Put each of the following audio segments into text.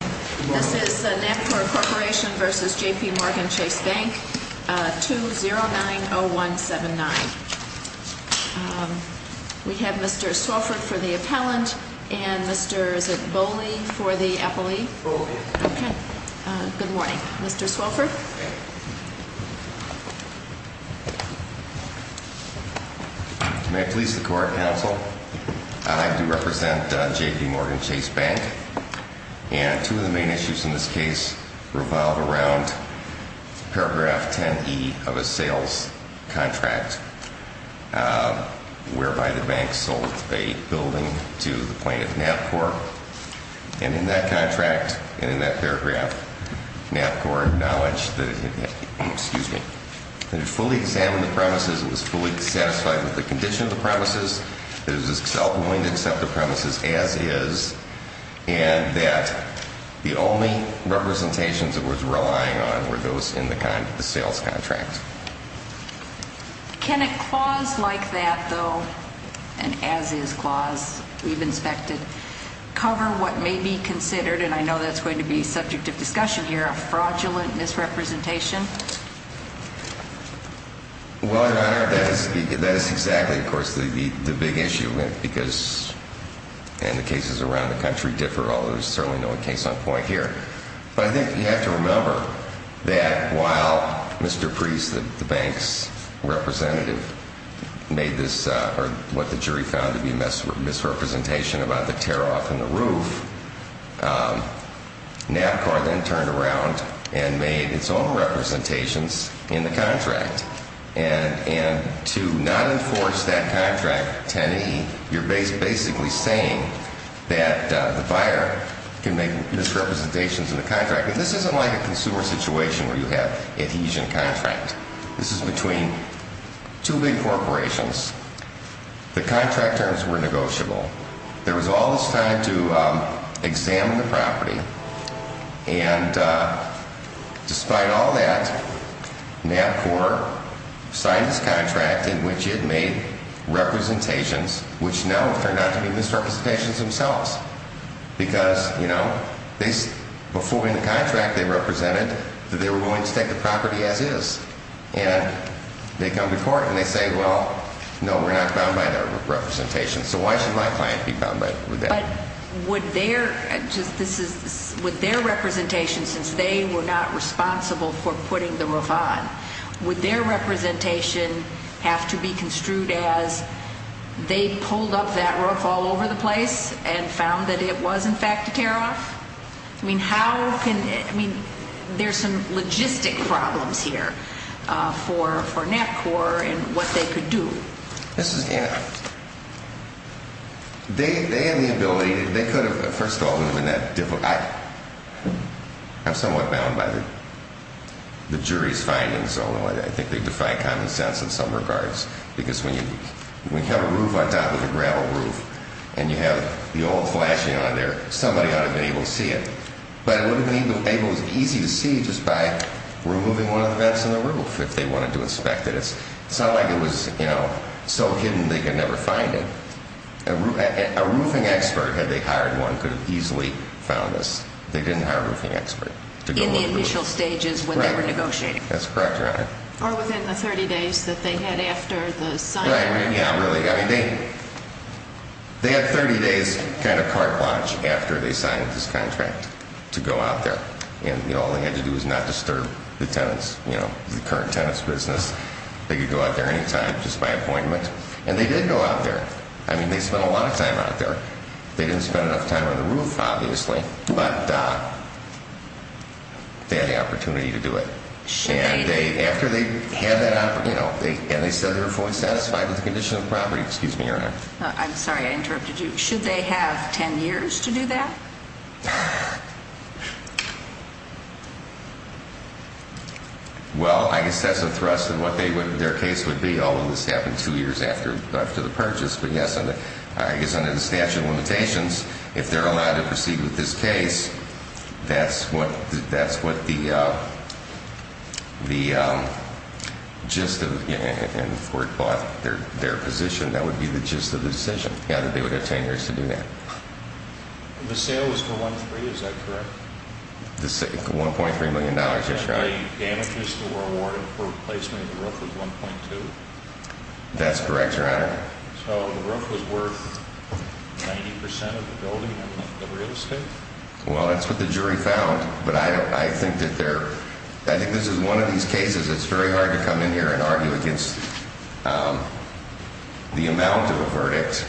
This is Nancor Corporation v. JPMorgan Chase Bank, 2090179. We have Mr. Swilford for the appellant and Mr. Boley for the appellee. Good morning. Mr. Swilford? I do represent JPMorgan Chase Bank and two of the main issues in this case revolve around paragraph 10E of a sales contract whereby the bank sold a building to the plaintiff, Nancor. And in that contract, and in that paragraph, Nancor acknowledged that it had fully examined the premises, it was fully satisfied with the condition of the premises, it is as self-willing to accept the premises as is, and that the only representations it was relying on were those in the sales contract. Can a clause like that, though, an as-is clause we've inspected, cover what may be considered, and I know that's going to be subject of discussion here, a fraudulent misrepresentation? Well, Your Honor, that is exactly, of course, the big issue because, and the cases around the country differ, although there's certainly no case on point here. But I think you have to remember that while Mr. Priest, the bank's representative, made this, or what the jury found to be a misrepresentation about the tear-off in the roof, Nancor then turned around and made its own representations in the contract. And to not enforce that contract, 10E, you're basically saying that the buyer can make misrepresentations in the contract. And this isn't like a consumer situation where you have adhesion contract. This is between two big corporations. The contract terms were negotiable. There was all this time to examine the property, and despite all that, Nancor signed this contract in which it made representations which now turned out to be misrepresentations themselves. Because, you know, before in the contract they represented, they were willing to take the property as-is. And they come before it and they say, well, no, we're not bound by that representation. So why should my client be bound by that? But would their representation, since they were not responsible for putting the roof on, would their representation have to be construed as they pulled up that roof all over the place and found that it was, in fact, a tear-off? I mean, how can – I mean, there's some logistic problems here for Nancor and what they could do. This is – they have the ability – they could have – first of all, it wouldn't have been that difficult. I'm somewhat bound by the jury's findings, although I think they defy common sense in some regards. Because when you have a roof on top of a gravel roof and you have the old flashing on there, somebody ought to have been able to see it. But it wouldn't have been able – it was easy to see just by removing one of the vents on the roof if they wanted to inspect it. It's not like it was so hidden they could never find it. A roofing expert, had they hired one, could have easily found this. They didn't hire a roofing expert to go over the roof. In the initial stages when they were negotiating. That's correct, Your Honor. Or within the 30 days that they had after the signing. Yeah, really. They had 30 days kind of cart watch after they signed this contract to go out there. And all they had to do was not disturb the tenants, you know, the current tenants' business. They could go out there any time just by appointment. And they did go out there. I mean, they spent a lot of time out there. They didn't spend enough time on the roof, obviously, but they had the opportunity to do it. And they said they were fully satisfied with the condition of the property. Excuse me, Your Honor. I'm sorry, I interrupted you. Should they have 10 years to do that? Well, I guess that's a thrust of what their case would be, although this happened two years after the purchase. But yes, I guess under the statute of limitations, if they're allowed to proceed with this case, that's what the gist of, and for their position, that would be the gist of the decision. Yeah, that they would have 10 years to do that. The sale was for $1.3 million, is that correct? The $1.3 million, yes, Your Honor. The damages that were awarded for replacement of the roof was $1.2 million? That's correct, Your Honor. So the roof was worth 90% of the building and the real estate? Well, that's what the jury found. But I think this is one of these cases it's very hard to come in here and argue against the amount of a verdict.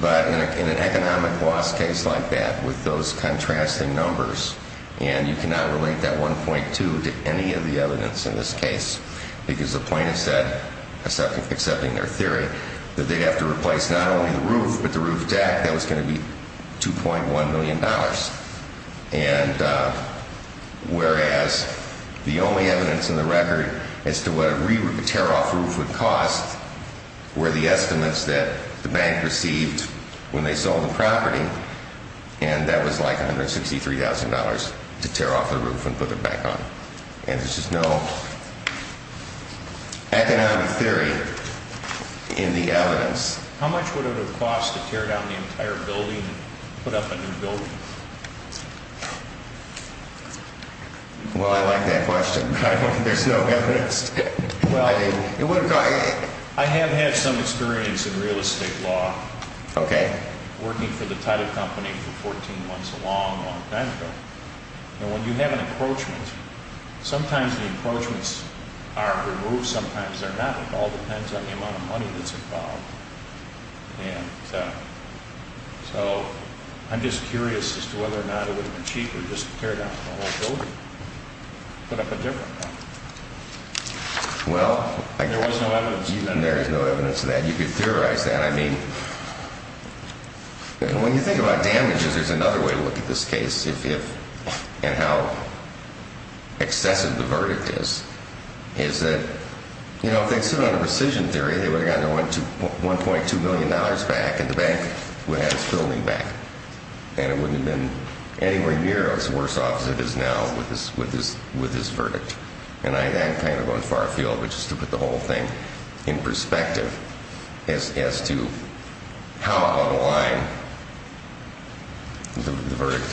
But in an economic loss case like that, with those contrasting numbers, and you cannot relate that $1.2 million to any of the evidence in this case because the plaintiff said, accepting their theory, that they'd have to replace not only the roof but the roof deck, that was going to be $2.1 million. And whereas the only evidence in the record as to what a tear-off roof would cost were the estimates that the bank received when they sold the property, and that was like $163,000 to tear off the roof and put it back on. And there's just no economic theory in the evidence. How much would it have cost to tear down the entire building and put up a new building? Well, I like that question, but I don't think there's no evidence. Well, I have had some experience in real estate law. Okay. Working for the title company for 14 months, a long, long time ago. And when you have an encroachment, sometimes the encroachments are removed, sometimes they're not. It all depends on the amount of money that's involved. And so I'm just curious as to whether or not it would have been cheaper just to tear down the whole building, put up a different one. There was no evidence of that. There is no evidence of that. You could theorize that. I mean, when you think about damages, there's another way to look at this case and how excessive the verdict is, is that, you know, if they'd sit on a precision theory, they would have gotten $1.2 million back and the bank would have had its building back. And it wouldn't have been anywhere near as worse off as it is now with this verdict. And I'm kind of going far afield, which is to put the whole thing in perspective as to how out of line the verdict is.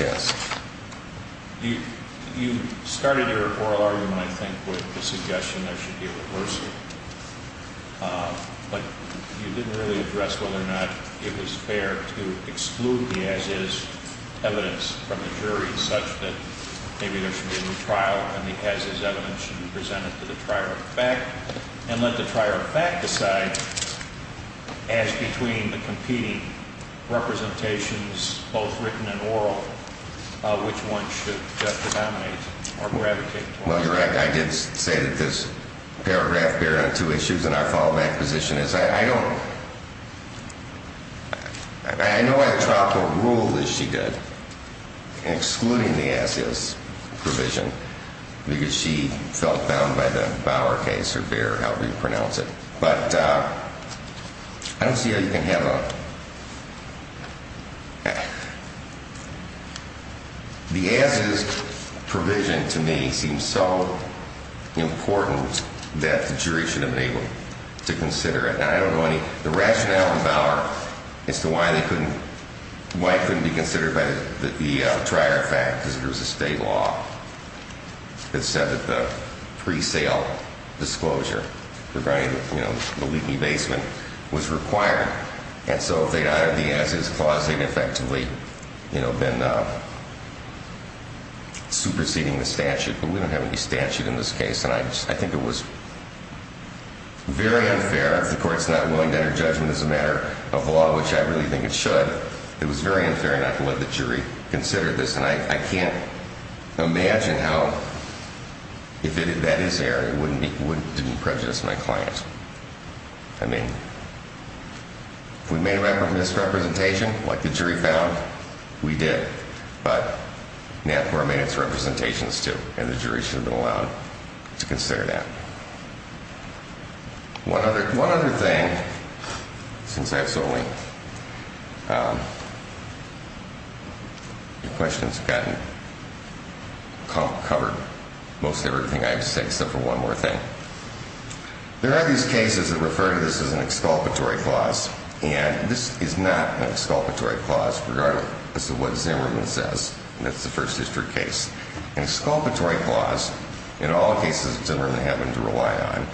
You started your oral argument, I think, with the suggestion there should be a reversal. But you didn't really address whether or not it was fair to exclude the as-is evidence from the jury such that maybe there should be a new trial, and the as-is evidence should be presented to the trier of fact and let the trier of fact decide as between the competing representations, both written and oral, which one should judge to nominate or gravitate toward. Well, you're right. I did say that this paragraph bared on two issues. And our follow-back position is I don't – I know I dropped a rule, as she did, excluding the as-is provision because she felt bound by the Bower case or Bair, however you pronounce it. But I don't see how you can have a – the as-is provision to me seems so important that the jury should have been able to consider it. Now, I don't know any – the rationale in Bower as to why they couldn't – why it couldn't be considered by the trier of fact is there was a state law that said that the pre-sale disclosure regarding, you know, the leaky basement was required. And so if they added the as-is clause, they'd effectively, you know, been superseding the statute. But we don't have any statute in this case, and I think it was very unfair. If the court's not willing to enter judgment as a matter of law, which I really think it should, it was very unfair not to let the jury consider this. And I can't imagine how, if that is there, it wouldn't prejudice my client. I mean, if we made a misrepresentation like the jury found, we did. But NAPCOR made its representations, too, and the jury should have been allowed to consider that. One other thing, since I have so many questions, I've gotten covered most everything I have to say except for one more thing. There are these cases that refer to this as an exculpatory clause, and this is not an exculpatory clause, regardless of what Zimmerman says. That's the First District case. An exculpatory clause, in all cases that Zimmerman happened to rely on,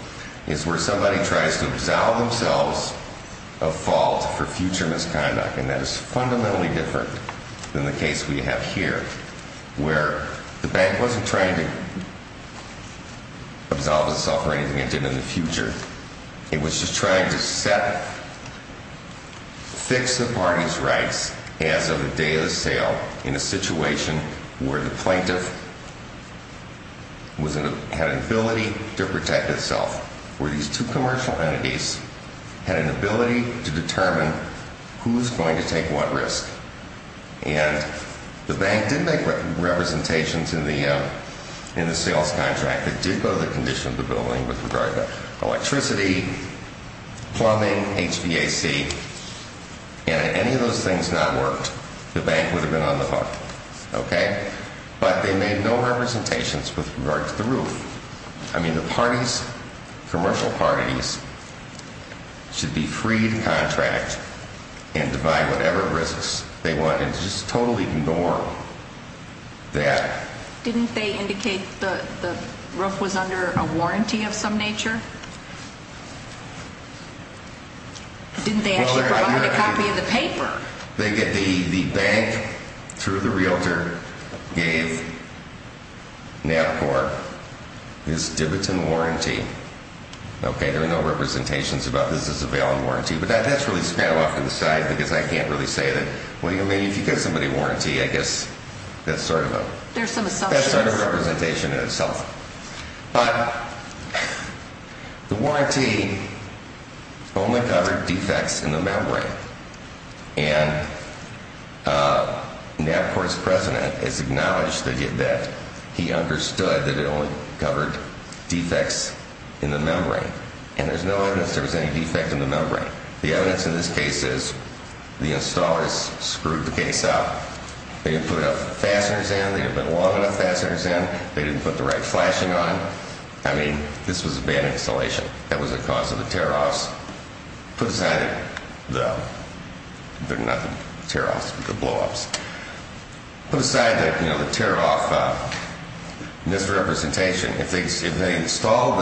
is where somebody tries to absolve themselves of fault for future misconduct. And that is fundamentally different than the case we have here, where the bank wasn't trying to absolve itself or anything it did in the future. It was just trying to fix the party's rights as of the day of the sale in a situation where the plaintiff had an ability to protect itself, where these two commercial entities had an ability to determine who's going to take what risk. And the bank did make representations in the sales contract that did go to the condition of the building with regard to electricity, plumbing, HVAC. And if any of those things not worked, the bank would have been on the hook. Okay? But they made no representations with regard to the roof. I mean, the parties, commercial parties, should be free to contract and divide whatever risks they want and just totally ignore that. Didn't they indicate the roof was under a warranty of some nature? Didn't they actually provide a copy of the paper? The bank, through the realtor, gave NABCOR its dividend warranty. Okay? There are no representations about this as a valent warranty. But that's really sped up off to the side because I can't really say that. What do you mean? If you give somebody a warranty, I guess that's sort of a representation in itself. But the warranty only covered defects in the membrane. And NABCOR's president has acknowledged that he understood that it only covered defects in the membrane. And there's no evidence there was any defect in the membrane. The evidence in this case is the installers screwed the case up. They didn't put enough fasteners in. They didn't put long enough fasteners in. They didn't put the right flashing on. I mean, this was a bad installation. That was the cause of the tear-offs. Put aside the, not the tear-offs, the blow-offs. Put aside the tear-off misrepresentation. If they installed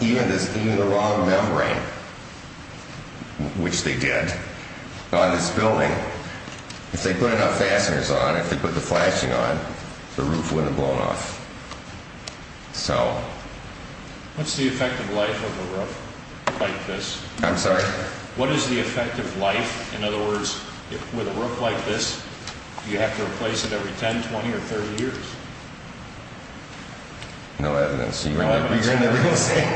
even the wrong membrane, which they did, on this building, if they put enough fasteners on, if they put the flashing on, the roof wouldn't have blown off. What's the effect of life of a roof like this? I'm sorry? What is the effect of life? In other words, with a roof like this, do you have to replace it every 10, 20, or 30 years? No evidence. You're in the real thing.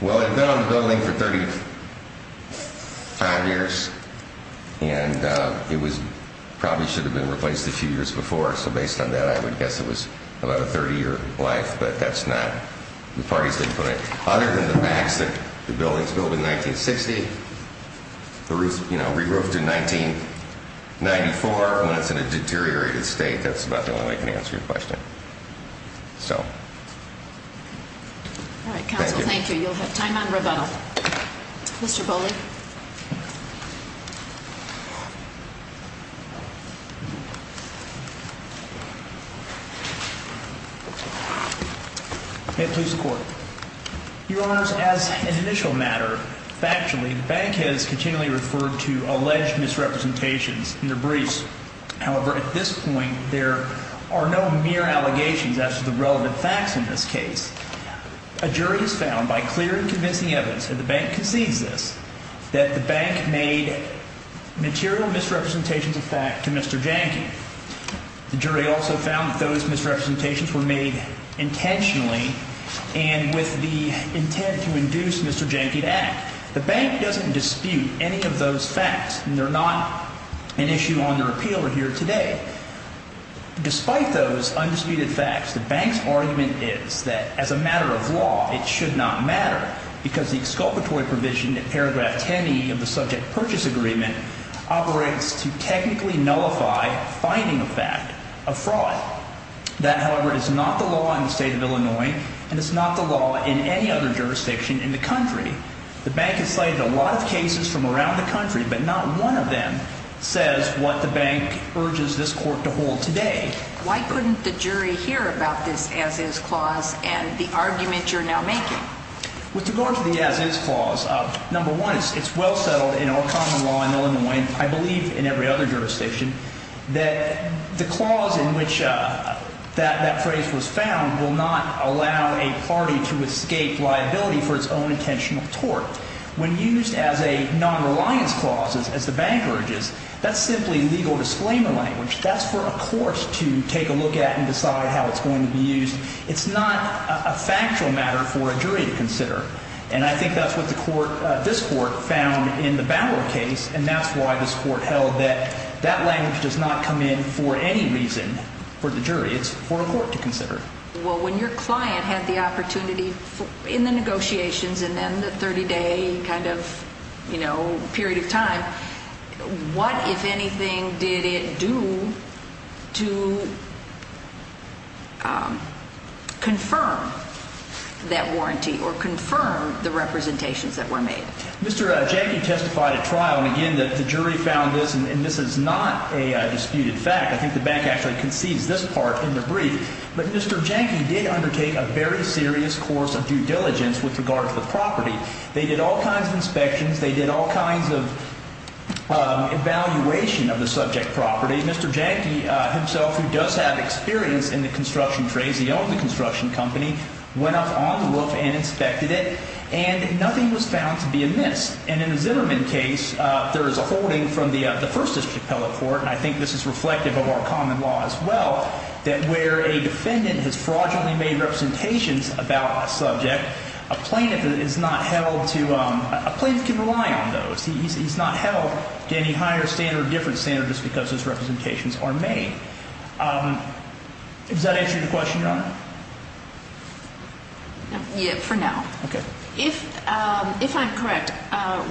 Well, it had been on the building for 35 years, and it probably should have been replaced a few years before, so based on that, I would guess it was about a 30-year life, but that's not the parties they put in. Other than the facts that the building was built in 1960, the roof re-roofed in 1994 when it's in a deteriorated state. That's about the only way I can answer your question. So. All right, Counsel, thank you. You'll have time on rebuttal. Mr. Bowley. May it please the Court. Your Honors, as an initial matter, factually, the bank has continually referred to alleged misrepresentations in their briefs. However, at this point, there are no mere allegations as to the relevant facts in this case. A jury has found, by clear and convincing evidence, and the bank concedes this, that the bank made material misrepresentations of fact to Mr. Janke. The jury also found that those misrepresentations were made intentionally and with the intent to induce Mr. Janke to act. The bank doesn't dispute any of those facts, and they're not an issue on their appeal here today. Despite those undisputed facts, the bank's argument is that, as a matter of law, it should not matter because the exculpatory provision in paragraph 10e of the subject purchase agreement operates to technically nullify finding a fact of fraud. That, however, is not the law in the state of Illinois, and it's not the law in any other jurisdiction in the country. The bank has cited a lot of cases from around the country, but not one of them says what the bank urges this court to hold today. Why couldn't the jury hear about this as-is clause and the argument you're now making? With regard to the as-is clause, number one, it's well settled in our common law in Illinois, and I believe in every other jurisdiction, that the clause in which that phrase was found will not allow a party to escape liability for its own intentional tort. When used as a non-reliance clause, as the bank urges, that's simply legal disclaimer language. That's for a court to take a look at and decide how it's going to be used. It's not a factual matter for a jury to consider, and I think that's what this court found in the Bower case, and that's why this court held that that language does not come in for any reason for the jury. It's for a court to consider. Well, when your client had the opportunity in the negotiations and then the 30-day kind of, you know, period of time, what, if anything, did it do to confirm that warranty or confirm the representations that were made? Mr. Jackie testified at trial, and again, the jury found this, and this is not a disputed fact. I think the bank actually concedes this part in the brief, but Mr. Jackie did undertake a very serious course of due diligence with regard to the property. They did all kinds of inspections. They did all kinds of evaluation of the subject property. Mr. Jackie himself, who does have experience in the construction trades, he owned the construction company, went up on the roof and inspected it, and nothing was found to be amiss. And in the Zimmerman case, there is a holding from the First District Appellate Court, and I think this is reflective of our common law as well, that where a defendant has fraudulently made representations about a subject, a plaintiff can rely on those. He's not held to any higher standard or different standards just because his representations are made. Does that answer your question, Your Honor? Yes, for now. Okay. If I'm correct,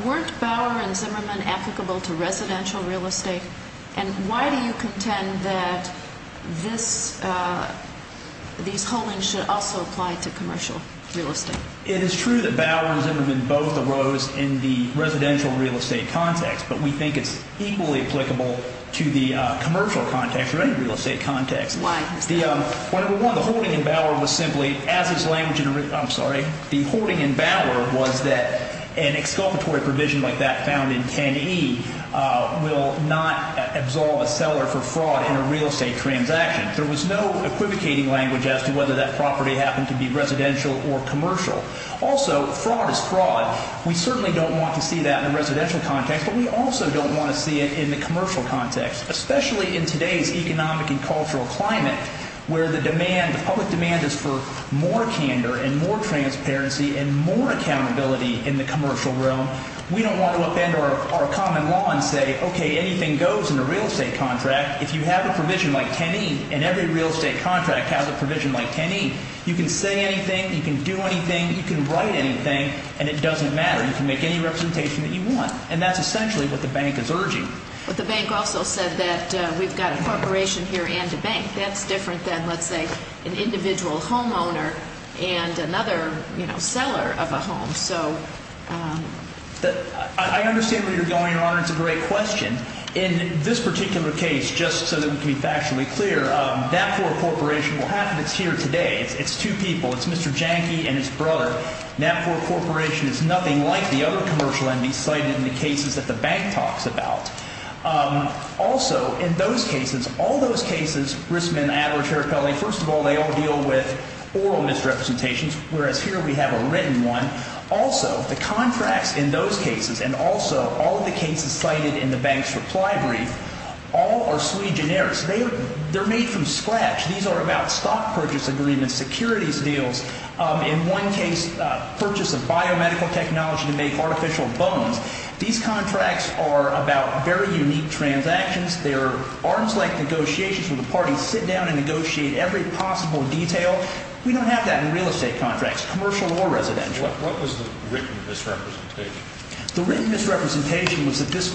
weren't Bauer and Zimmerman applicable to residential real estate, and why do you contend that these holdings should also apply to commercial real estate? It is true that Bauer and Zimmerman both arose in the residential real estate context, but we think it's equally applicable to the commercial context or any real estate context. Why? Well, number one, the holding in Bauer was simply, as its language in the written, I'm sorry, the holding in Bauer was that an exculpatory provision like that found in 10E will not absolve a seller for fraud in a real estate transaction. There was no equivocating language as to whether that property happened to be residential or commercial. Also, fraud is fraud. We certainly don't want to see that in the residential context, but we also don't want to see it in the commercial context, especially in today's economic and cultural climate, where the public demand is for more candor and more transparency and more accountability in the commercial realm. We don't want to upend our common law and say, okay, anything goes in a real estate contract. If you have a provision like 10E and every real estate contract has a provision like 10E, you can say anything, you can do anything, you can write anything, and it doesn't matter. You can make any representation that you want. And that's essentially what the bank is urging. But the bank also said that we've got a corporation here and a bank. That's different than, let's say, an individual homeowner and another seller of a home. So I understand where you're going, Your Honor. It's a great question. In this particular case, just so that we can be factually clear, NAPFOR Corporation, well, half of it is here today. It's two people. It's Mr. Janke and his brother. NAPFOR Corporation is nothing like the other commercial entities cited in the cases that the bank talks about. Also, in those cases, all those cases, risk, men, ad, or terror, felony, first of all, they all deal with oral misrepresentations, whereas here we have a written one. Also, the contracts in those cases and also all of the cases cited in the bank's reply brief, all are sui generis. They're made from scratch. These are about stock purchase agreements, securities deals, in one case, purchase of biomedical technology to make artificial bones. These contracts are about very unique transactions. They're arms-length negotiations where the parties sit down and negotiate every possible detail. We don't have that in real estate contracts, commercial or residential. What was the written misrepresentation? The written misrepresentation was that this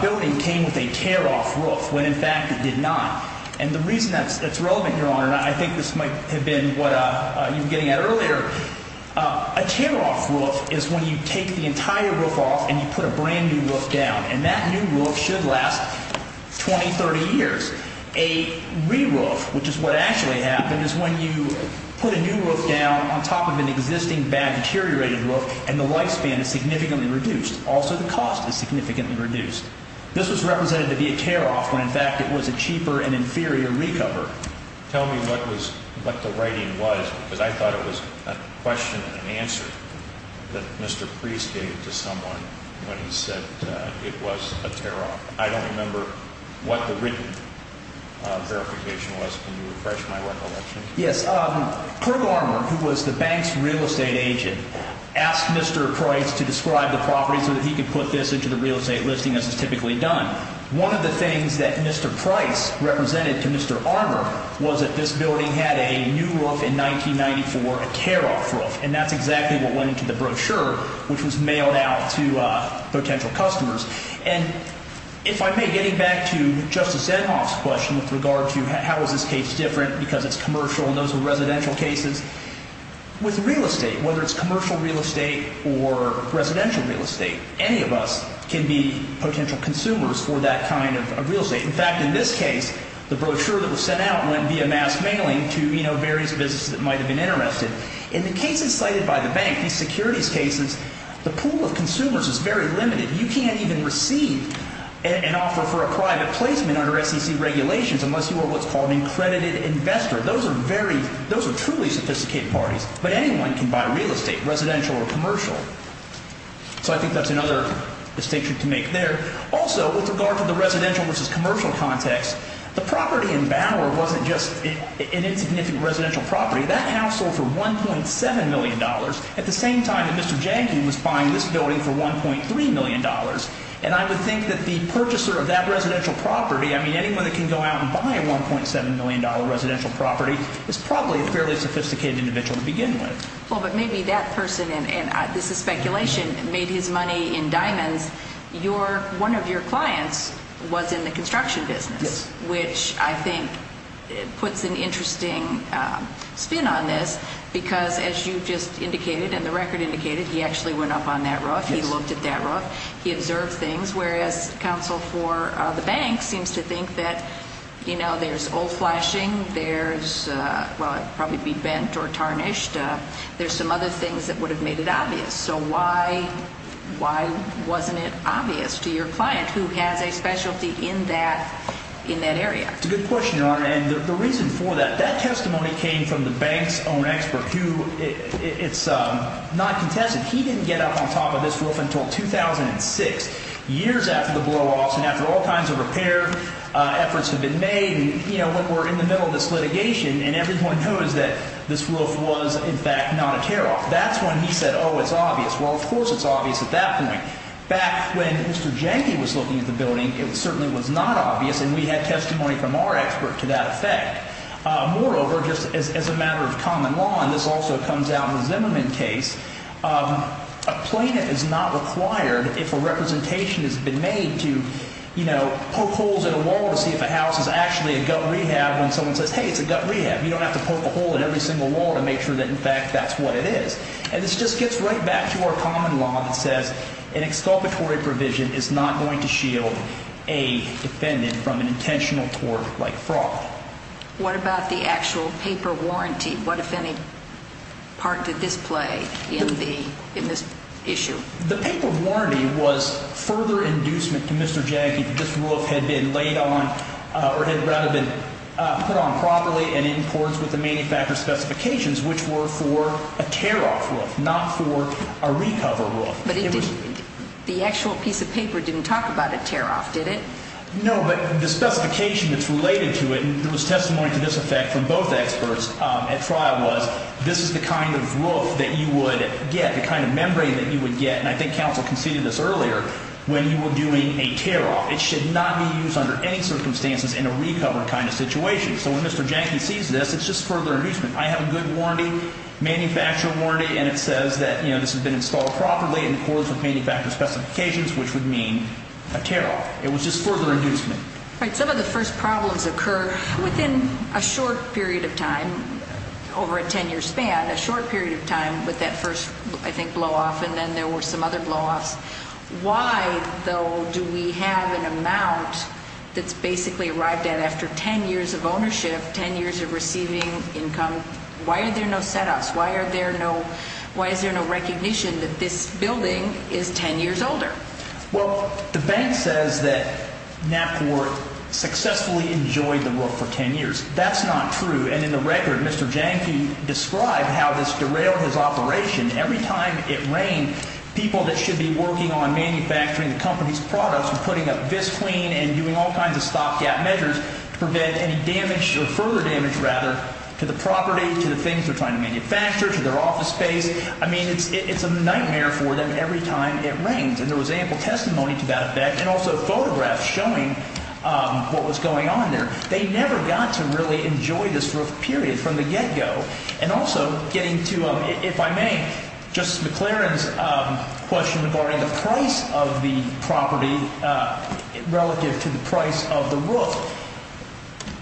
building came with a tear-off roof when, in fact, it did not. And the reason that's relevant, Your Honor, and I think this might have been what you were getting at earlier, a tear-off roof is when you take the entire roof off and you put a brand-new roof down, and that new roof should last 20, 30 years. A re-roof, which is what actually happened, is when you put a new roof down on top of an existing, bad, deteriorated roof, and the lifespan is significantly reduced. Also, the cost is significantly reduced. This was represented to be a tear-off when, in fact, it was a cheaper and inferior recover. Tell me what the writing was because I thought it was a question and answer that Mr. Priest gave to someone when he said it was a tear-off. I don't remember what the written verification was. Can you refresh my recollection? Yes. Kirk Armour, who was the bank's real estate agent, asked Mr. Priest to describe the property so that he could put this into the real estate listing, as is typically done. One of the things that Mr. Priest represented to Mr. Armour was that this building had a new roof in 1994, a tear-off roof, and that's exactly what went into the brochure, which was mailed out to potential customers. And if I may, getting back to Justice Edhoff's question with regard to how is this case different because it's commercial and those are residential cases, with real estate, whether it's commercial real estate or residential real estate, any of us can be potential consumers for that kind of real estate. In fact, in this case, the brochure that was sent out went via mass mailing to various businesses that might have been interested. In the cases cited by the bank, these securities cases, the pool of consumers is very limited. You can't even receive an offer for a private placement under SEC regulations unless you are what's called an accredited investor. Those are truly sophisticated parties, but anyone can buy real estate, residential or commercial. So I think that's another distinction to make there. Also, with regard to the residential versus commercial context, the property in Bower wasn't just an insignificant residential property. That house sold for $1.7 million at the same time that Mr. Jankin was buying this building for $1.3 million. And I would think that the purchaser of that residential property, I mean, anyone that can go out and buy a $1.7 million residential property is probably a fairly sophisticated individual to begin with. Well, but maybe that person, and this is speculation, made his money in diamonds. One of your clients was in the construction business, which I think puts an interesting spin on this because, as you just indicated and the record indicated, he actually went up on that roof. He looked at that roof. He observed things, whereas counsel for the bank seems to think that there's old flashing. There's, well, it would probably be bent or tarnished. So why wasn't it obvious to your client who has a specialty in that area? It's a good question, Your Honor. And the reason for that, that testimony came from the bank's own expert, who it's not contested. He didn't get up on top of this roof until 2006, years after the blowoffs and after all kinds of repair efforts have been made. And, you know, when we're in the middle of this litigation and everyone knows that this roof was, in fact, not a tear-off, that's when he said, oh, it's obvious. Well, of course it's obvious at that point. Back when Mr. Jenke was looking at the building, it certainly was not obvious, and we had testimony from our expert to that effect. Moreover, just as a matter of common law, and this also comes out in the Zimmerman case, a plaintiff is not required, if a representation has been made, to, you know, poke holes in a wall to see if a house is actually a gut rehab when someone says, hey, it's a gut rehab. You don't have to poke a hole in every single wall to make sure that, in fact, that's what it is. And this just gets right back to our common law that says an exculpatory provision is not going to shield a defendant from an intentional tort like fraud. What about the actual paper warranty? What, if any, part did this play in this issue? The paper warranty was further inducement to Mr. Jenke that this roof had been laid on or had rather been put on properly and in accordance with the manufacturer's specifications, which were for a tear-off roof, not for a recover roof. But the actual piece of paper didn't talk about a tear-off, did it? No, but the specification that's related to it, and there was testimony to this effect from both experts at trial, was this is the kind of roof that you would get, the kind of membrane that you would get, and I think counsel conceded this earlier, when you were doing a tear-off. It should not be used under any circumstances in a recover kind of situation. So when Mr. Jenke sees this, it's just further inducement. I have a good warranty, manufacturer warranty, and it says that this has been installed properly in accordance with manufacturer's specifications, which would mean a tear-off. It was just further inducement. Right. Some of the first problems occur within a short period of time, over a 10-year span, a short period of time with that first, I think, blow-off, and then there were some other blow-offs. Why, though, do we have an amount that's basically arrived at after 10 years of ownership, 10 years of receiving income? Why are there no set-ups? Why is there no recognition that this building is 10 years older? Well, the bank says that Knapport successfully enjoyed the roof for 10 years. That's not true, and in the record, Mr. Jenke described how this derailed his operation. Every time it rained, people that should be working on manufacturing the company's products and putting up vis clean and doing all kinds of stop-gap measures to prevent any damage or further damage, rather, to the property, to the things they're trying to manufacture, to their office space. I mean it's a nightmare for them every time it rains, and there was ample testimony to that effect and also photographs showing what was going on there. They never got to really enjoy this roof, period, from the get-go. And also getting to, if I may, Justice McLaren's question regarding the price of the property relative to the price of the roof.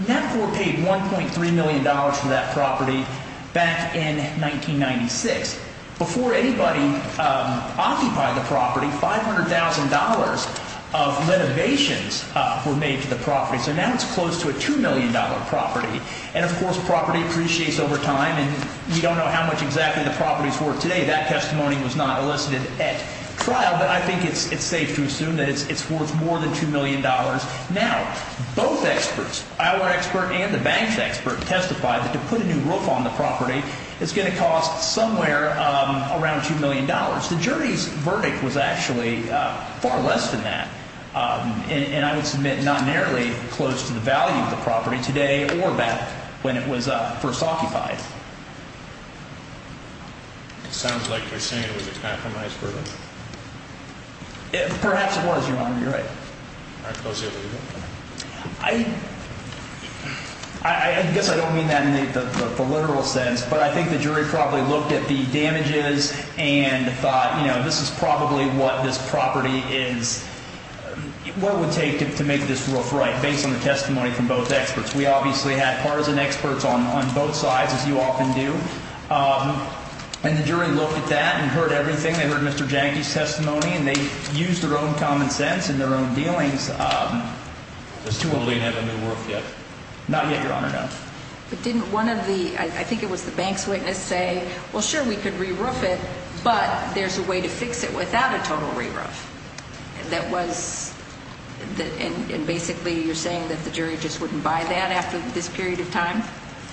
Knapport paid $1.3 million for that property back in 1996. Before anybody occupied the property, $500,000 of renovations were made to the property, so now it's close to a $2 million property. And, of course, property depreciates over time, and you don't know how much exactly the property's worth today. That testimony was not elicited at trial, but I think it's safe to assume that it's worth more than $2 million. Now, both experts, our expert and the bank's expert, testified that to put a new roof on the property is going to cost somewhere around $2 million. The jury's verdict was actually far less than that, and I would submit not nearly close to the value of the property today or back when it was first occupied. It sounds like they're saying it was a compromise verdict. Perhaps it was, Your Honor. You're right. All right. Close it or leave it? I guess I don't mean that in the literal sense, but I think the jury probably looked at the damages and thought, you know, this is probably what this property is, what it would take to make this roof right, based on the testimony from both experts. We obviously had partisan experts on both sides, as you often do, and the jury looked at that and heard everything. They heard Mr. Jahnke's testimony, and they used their own common sense and their own dealings. Does $2 million have a new roof yet? Not yet, Your Honor, no. But didn't one of the – I think it was the bank's witness – say, well, sure, we could re-roof it, but there's a way to fix it without a total re-roof? That was – and basically you're saying that the jury just wouldn't buy that after this period of time?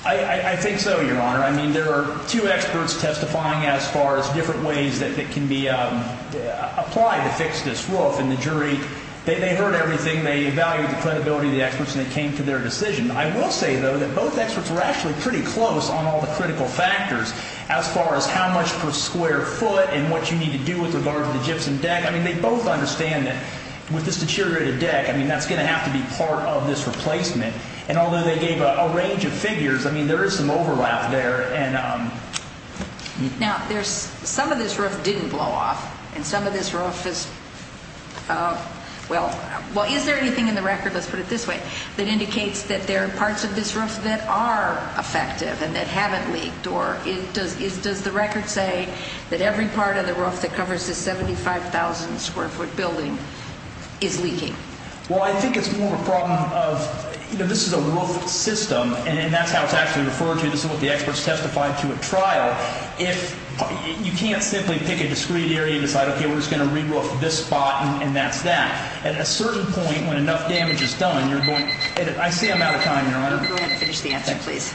I think so, Your Honor. I mean, there are two experts testifying as far as different ways that can be applied to fix this roof, and the jury – they heard everything, they evaluated the credibility of the experts, and it came to their decision. I will say, though, that both experts were actually pretty close on all the critical factors as far as how much per square foot and what you need to do with regard to the gypsum deck. I mean, they both understand that with this deteriorated deck, I mean, that's going to have to be part of this replacement. And although they gave a range of figures, I mean, there is some overlap there. Now, there's – some of this roof didn't blow off, and some of this roof is – well, is there anything in the record – are there parts of this roof that are effective and that haven't leaked, or does the record say that every part of the roof that covers this 75,000-square-foot building is leaking? Well, I think it's more of a problem of – you know, this is a roof system, and that's how it's actually referred to. This is what the experts testified to at trial. If – you can't simply pick a discrete area and decide, okay, we're just going to re-roof this spot and that's that. At a certain point, when enough damage is done, you're going – I see I'm out of time, Your Honor. Go ahead and finish the answer, please.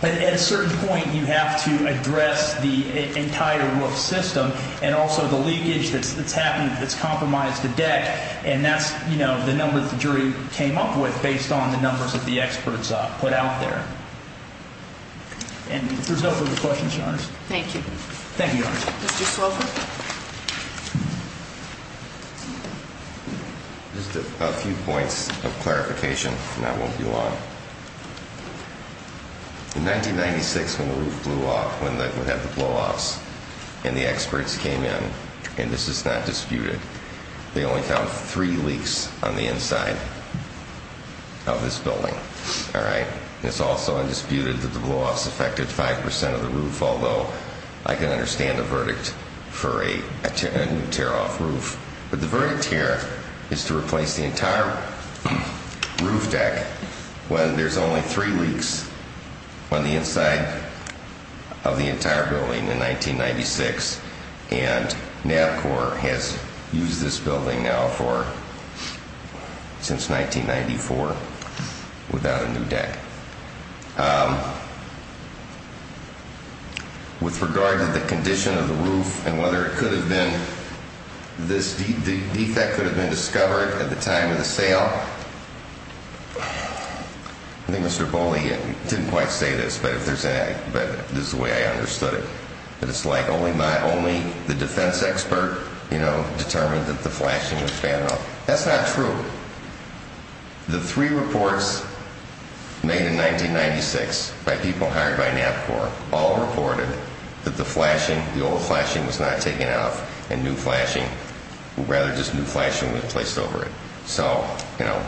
But at a certain point, you have to address the entire roof system and also the leakage that's happened that's compromised the deck, and that's, you know, the number that the jury came up with based on the numbers that the experts put out there. And if there's no further questions, Your Honor. Thank you. Thank you, Your Honor. Mr. Slover? Just a few points of clarification, and that won't be long. In 1996, when the roof blew off, when we had the blowoffs, and the experts came in, and this is not disputed, they only found three leaks on the inside of this building, all right? It's also undisputed that the blowoffs affected 5 percent of the roof, although I can understand the verdict for a new tear-off roof. But the verdict here is to replace the entire roof deck when there's only three leaks on the inside of the entire building in 1996, and NABCOR has used this building now for – since 1994 without a new deck. With regard to the condition of the roof and whether it could have been – this defect could have been discovered at the time of the sale, I think Mr. Bolli didn't quite say this, but if there's any – but this is the way I understood it. But it's like only my – only the defense expert, you know, determined that the flashing was bad enough. That's not true. The three reports made in 1996 by people hired by NABCOR all reported that the flashing, the old flashing was not taken out, and new flashing – or rather, just new flashing was placed over it. So, you know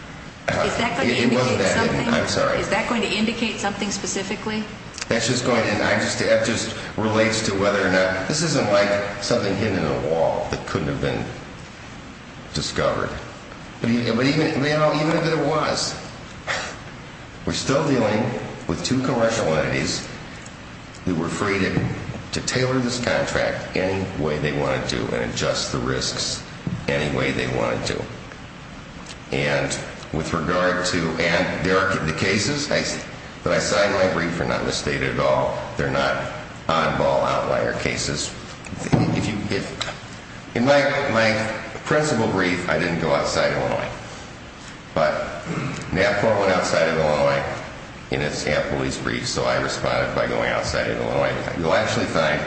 – Is that going to indicate something? I'm sorry. Is that going to indicate something specifically? That's just going to – that just relates to whether or not – this isn't like something hidden in a wall that couldn't have been discovered. But even – you know, even if it was, we're still dealing with two commercial entities who were free to tailor this contract any way they wanted to and adjust the risks any way they wanted to. And with regard to – and there are – the cases that I cite in my brief are not misstated at all. They're not oddball outlier cases. If you – in my principal brief, I didn't go outside of Illinois. But NABCOR went outside of Illinois in its police brief, so I responded by going outside of Illinois. You'll actually find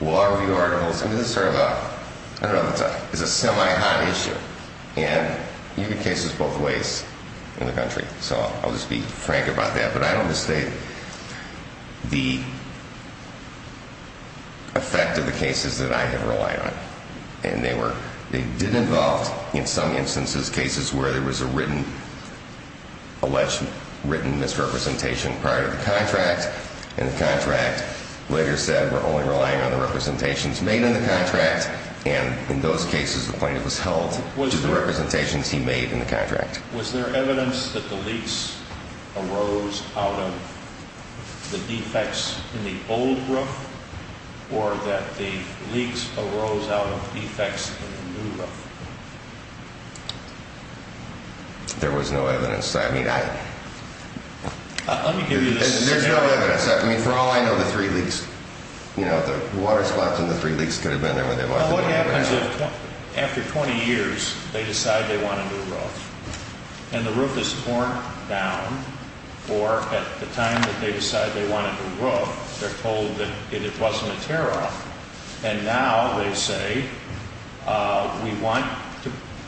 law review articles – I mean, this is sort of a – I don't know if it's a – it's a semi-hot issue. And you get cases both ways in the country. So I'll just be frank about that. But I don't misstate the effect of the cases that I have relied on. And they were – they did involve, in some instances, cases where there was a written – alleged written misrepresentation prior to the contract. And the contract later said we're only relying on the representations made in the contract. And in those cases, the plaintiff was held to the representations he made in the contract. Was there evidence that the leaks arose out of the defects in the old roof or that the leaks arose out of defects in the new roof? There was no evidence. I mean, I – Let me give you this scenario. There's no evidence. I mean, for all I know, the three leaks – you know, the water spots in the three leaks could have been there when they wasn't. So what happens if, after 20 years, they decide they want a new roof? And the roof is torn down, or at the time that they decide they want a new roof, they're told that it wasn't a tear-off. And now they say, we want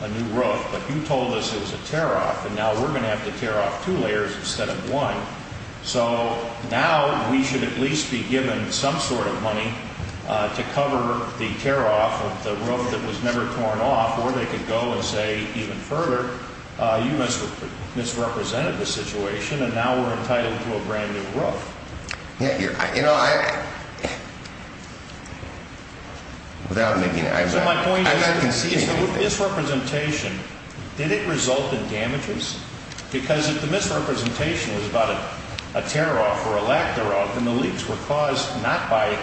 a new roof, but you told us it was a tear-off, and now we're going to have to tear off two layers instead of one. So now we should at least be given some sort of money to cover the tear-off of the roof that was never torn off. Or they could go and say even further, you misrepresented the situation, and now we're entitled to a brand-new roof. Yeah, you're – you know, I – without making – I'm not conceding anything. So my point is, is the misrepresentation, did it result in damages? Because if the misrepresentation was about a tear-off or a lack thereof, and the leaks were caused not by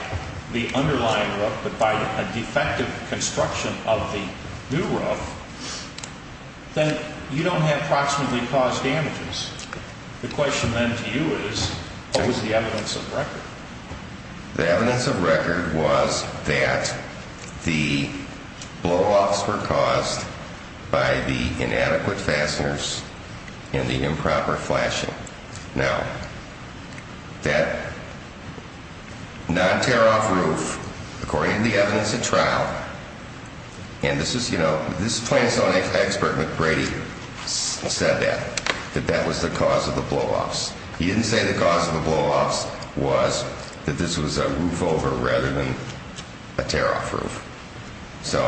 the underlying roof, but by a defective construction of the new roof, then you don't have approximately caused damages. The question then to you is, what was the evidence of record? The evidence of record was that the blow-offs were caused by the inadequate fasteners and the improper flashing. Now, that non-tear-off roof, according to the evidence at trial – and this is, you know, this is plain so expert McBrady said that, that that was the cause of the blow-offs. He didn't say the cause of the blow-offs was that this was a roof over rather than a tear-off roof. So,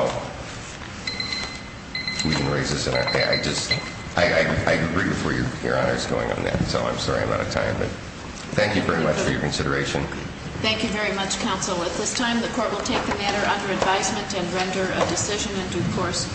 we can raise this in our – I just – I agree with where Your Honor is going on that. So I'm sorry I'm out of time, but thank you very much for your consideration. Thank you very much, counsel. At this time, the court will take the matter under advisement and render a decision in due course.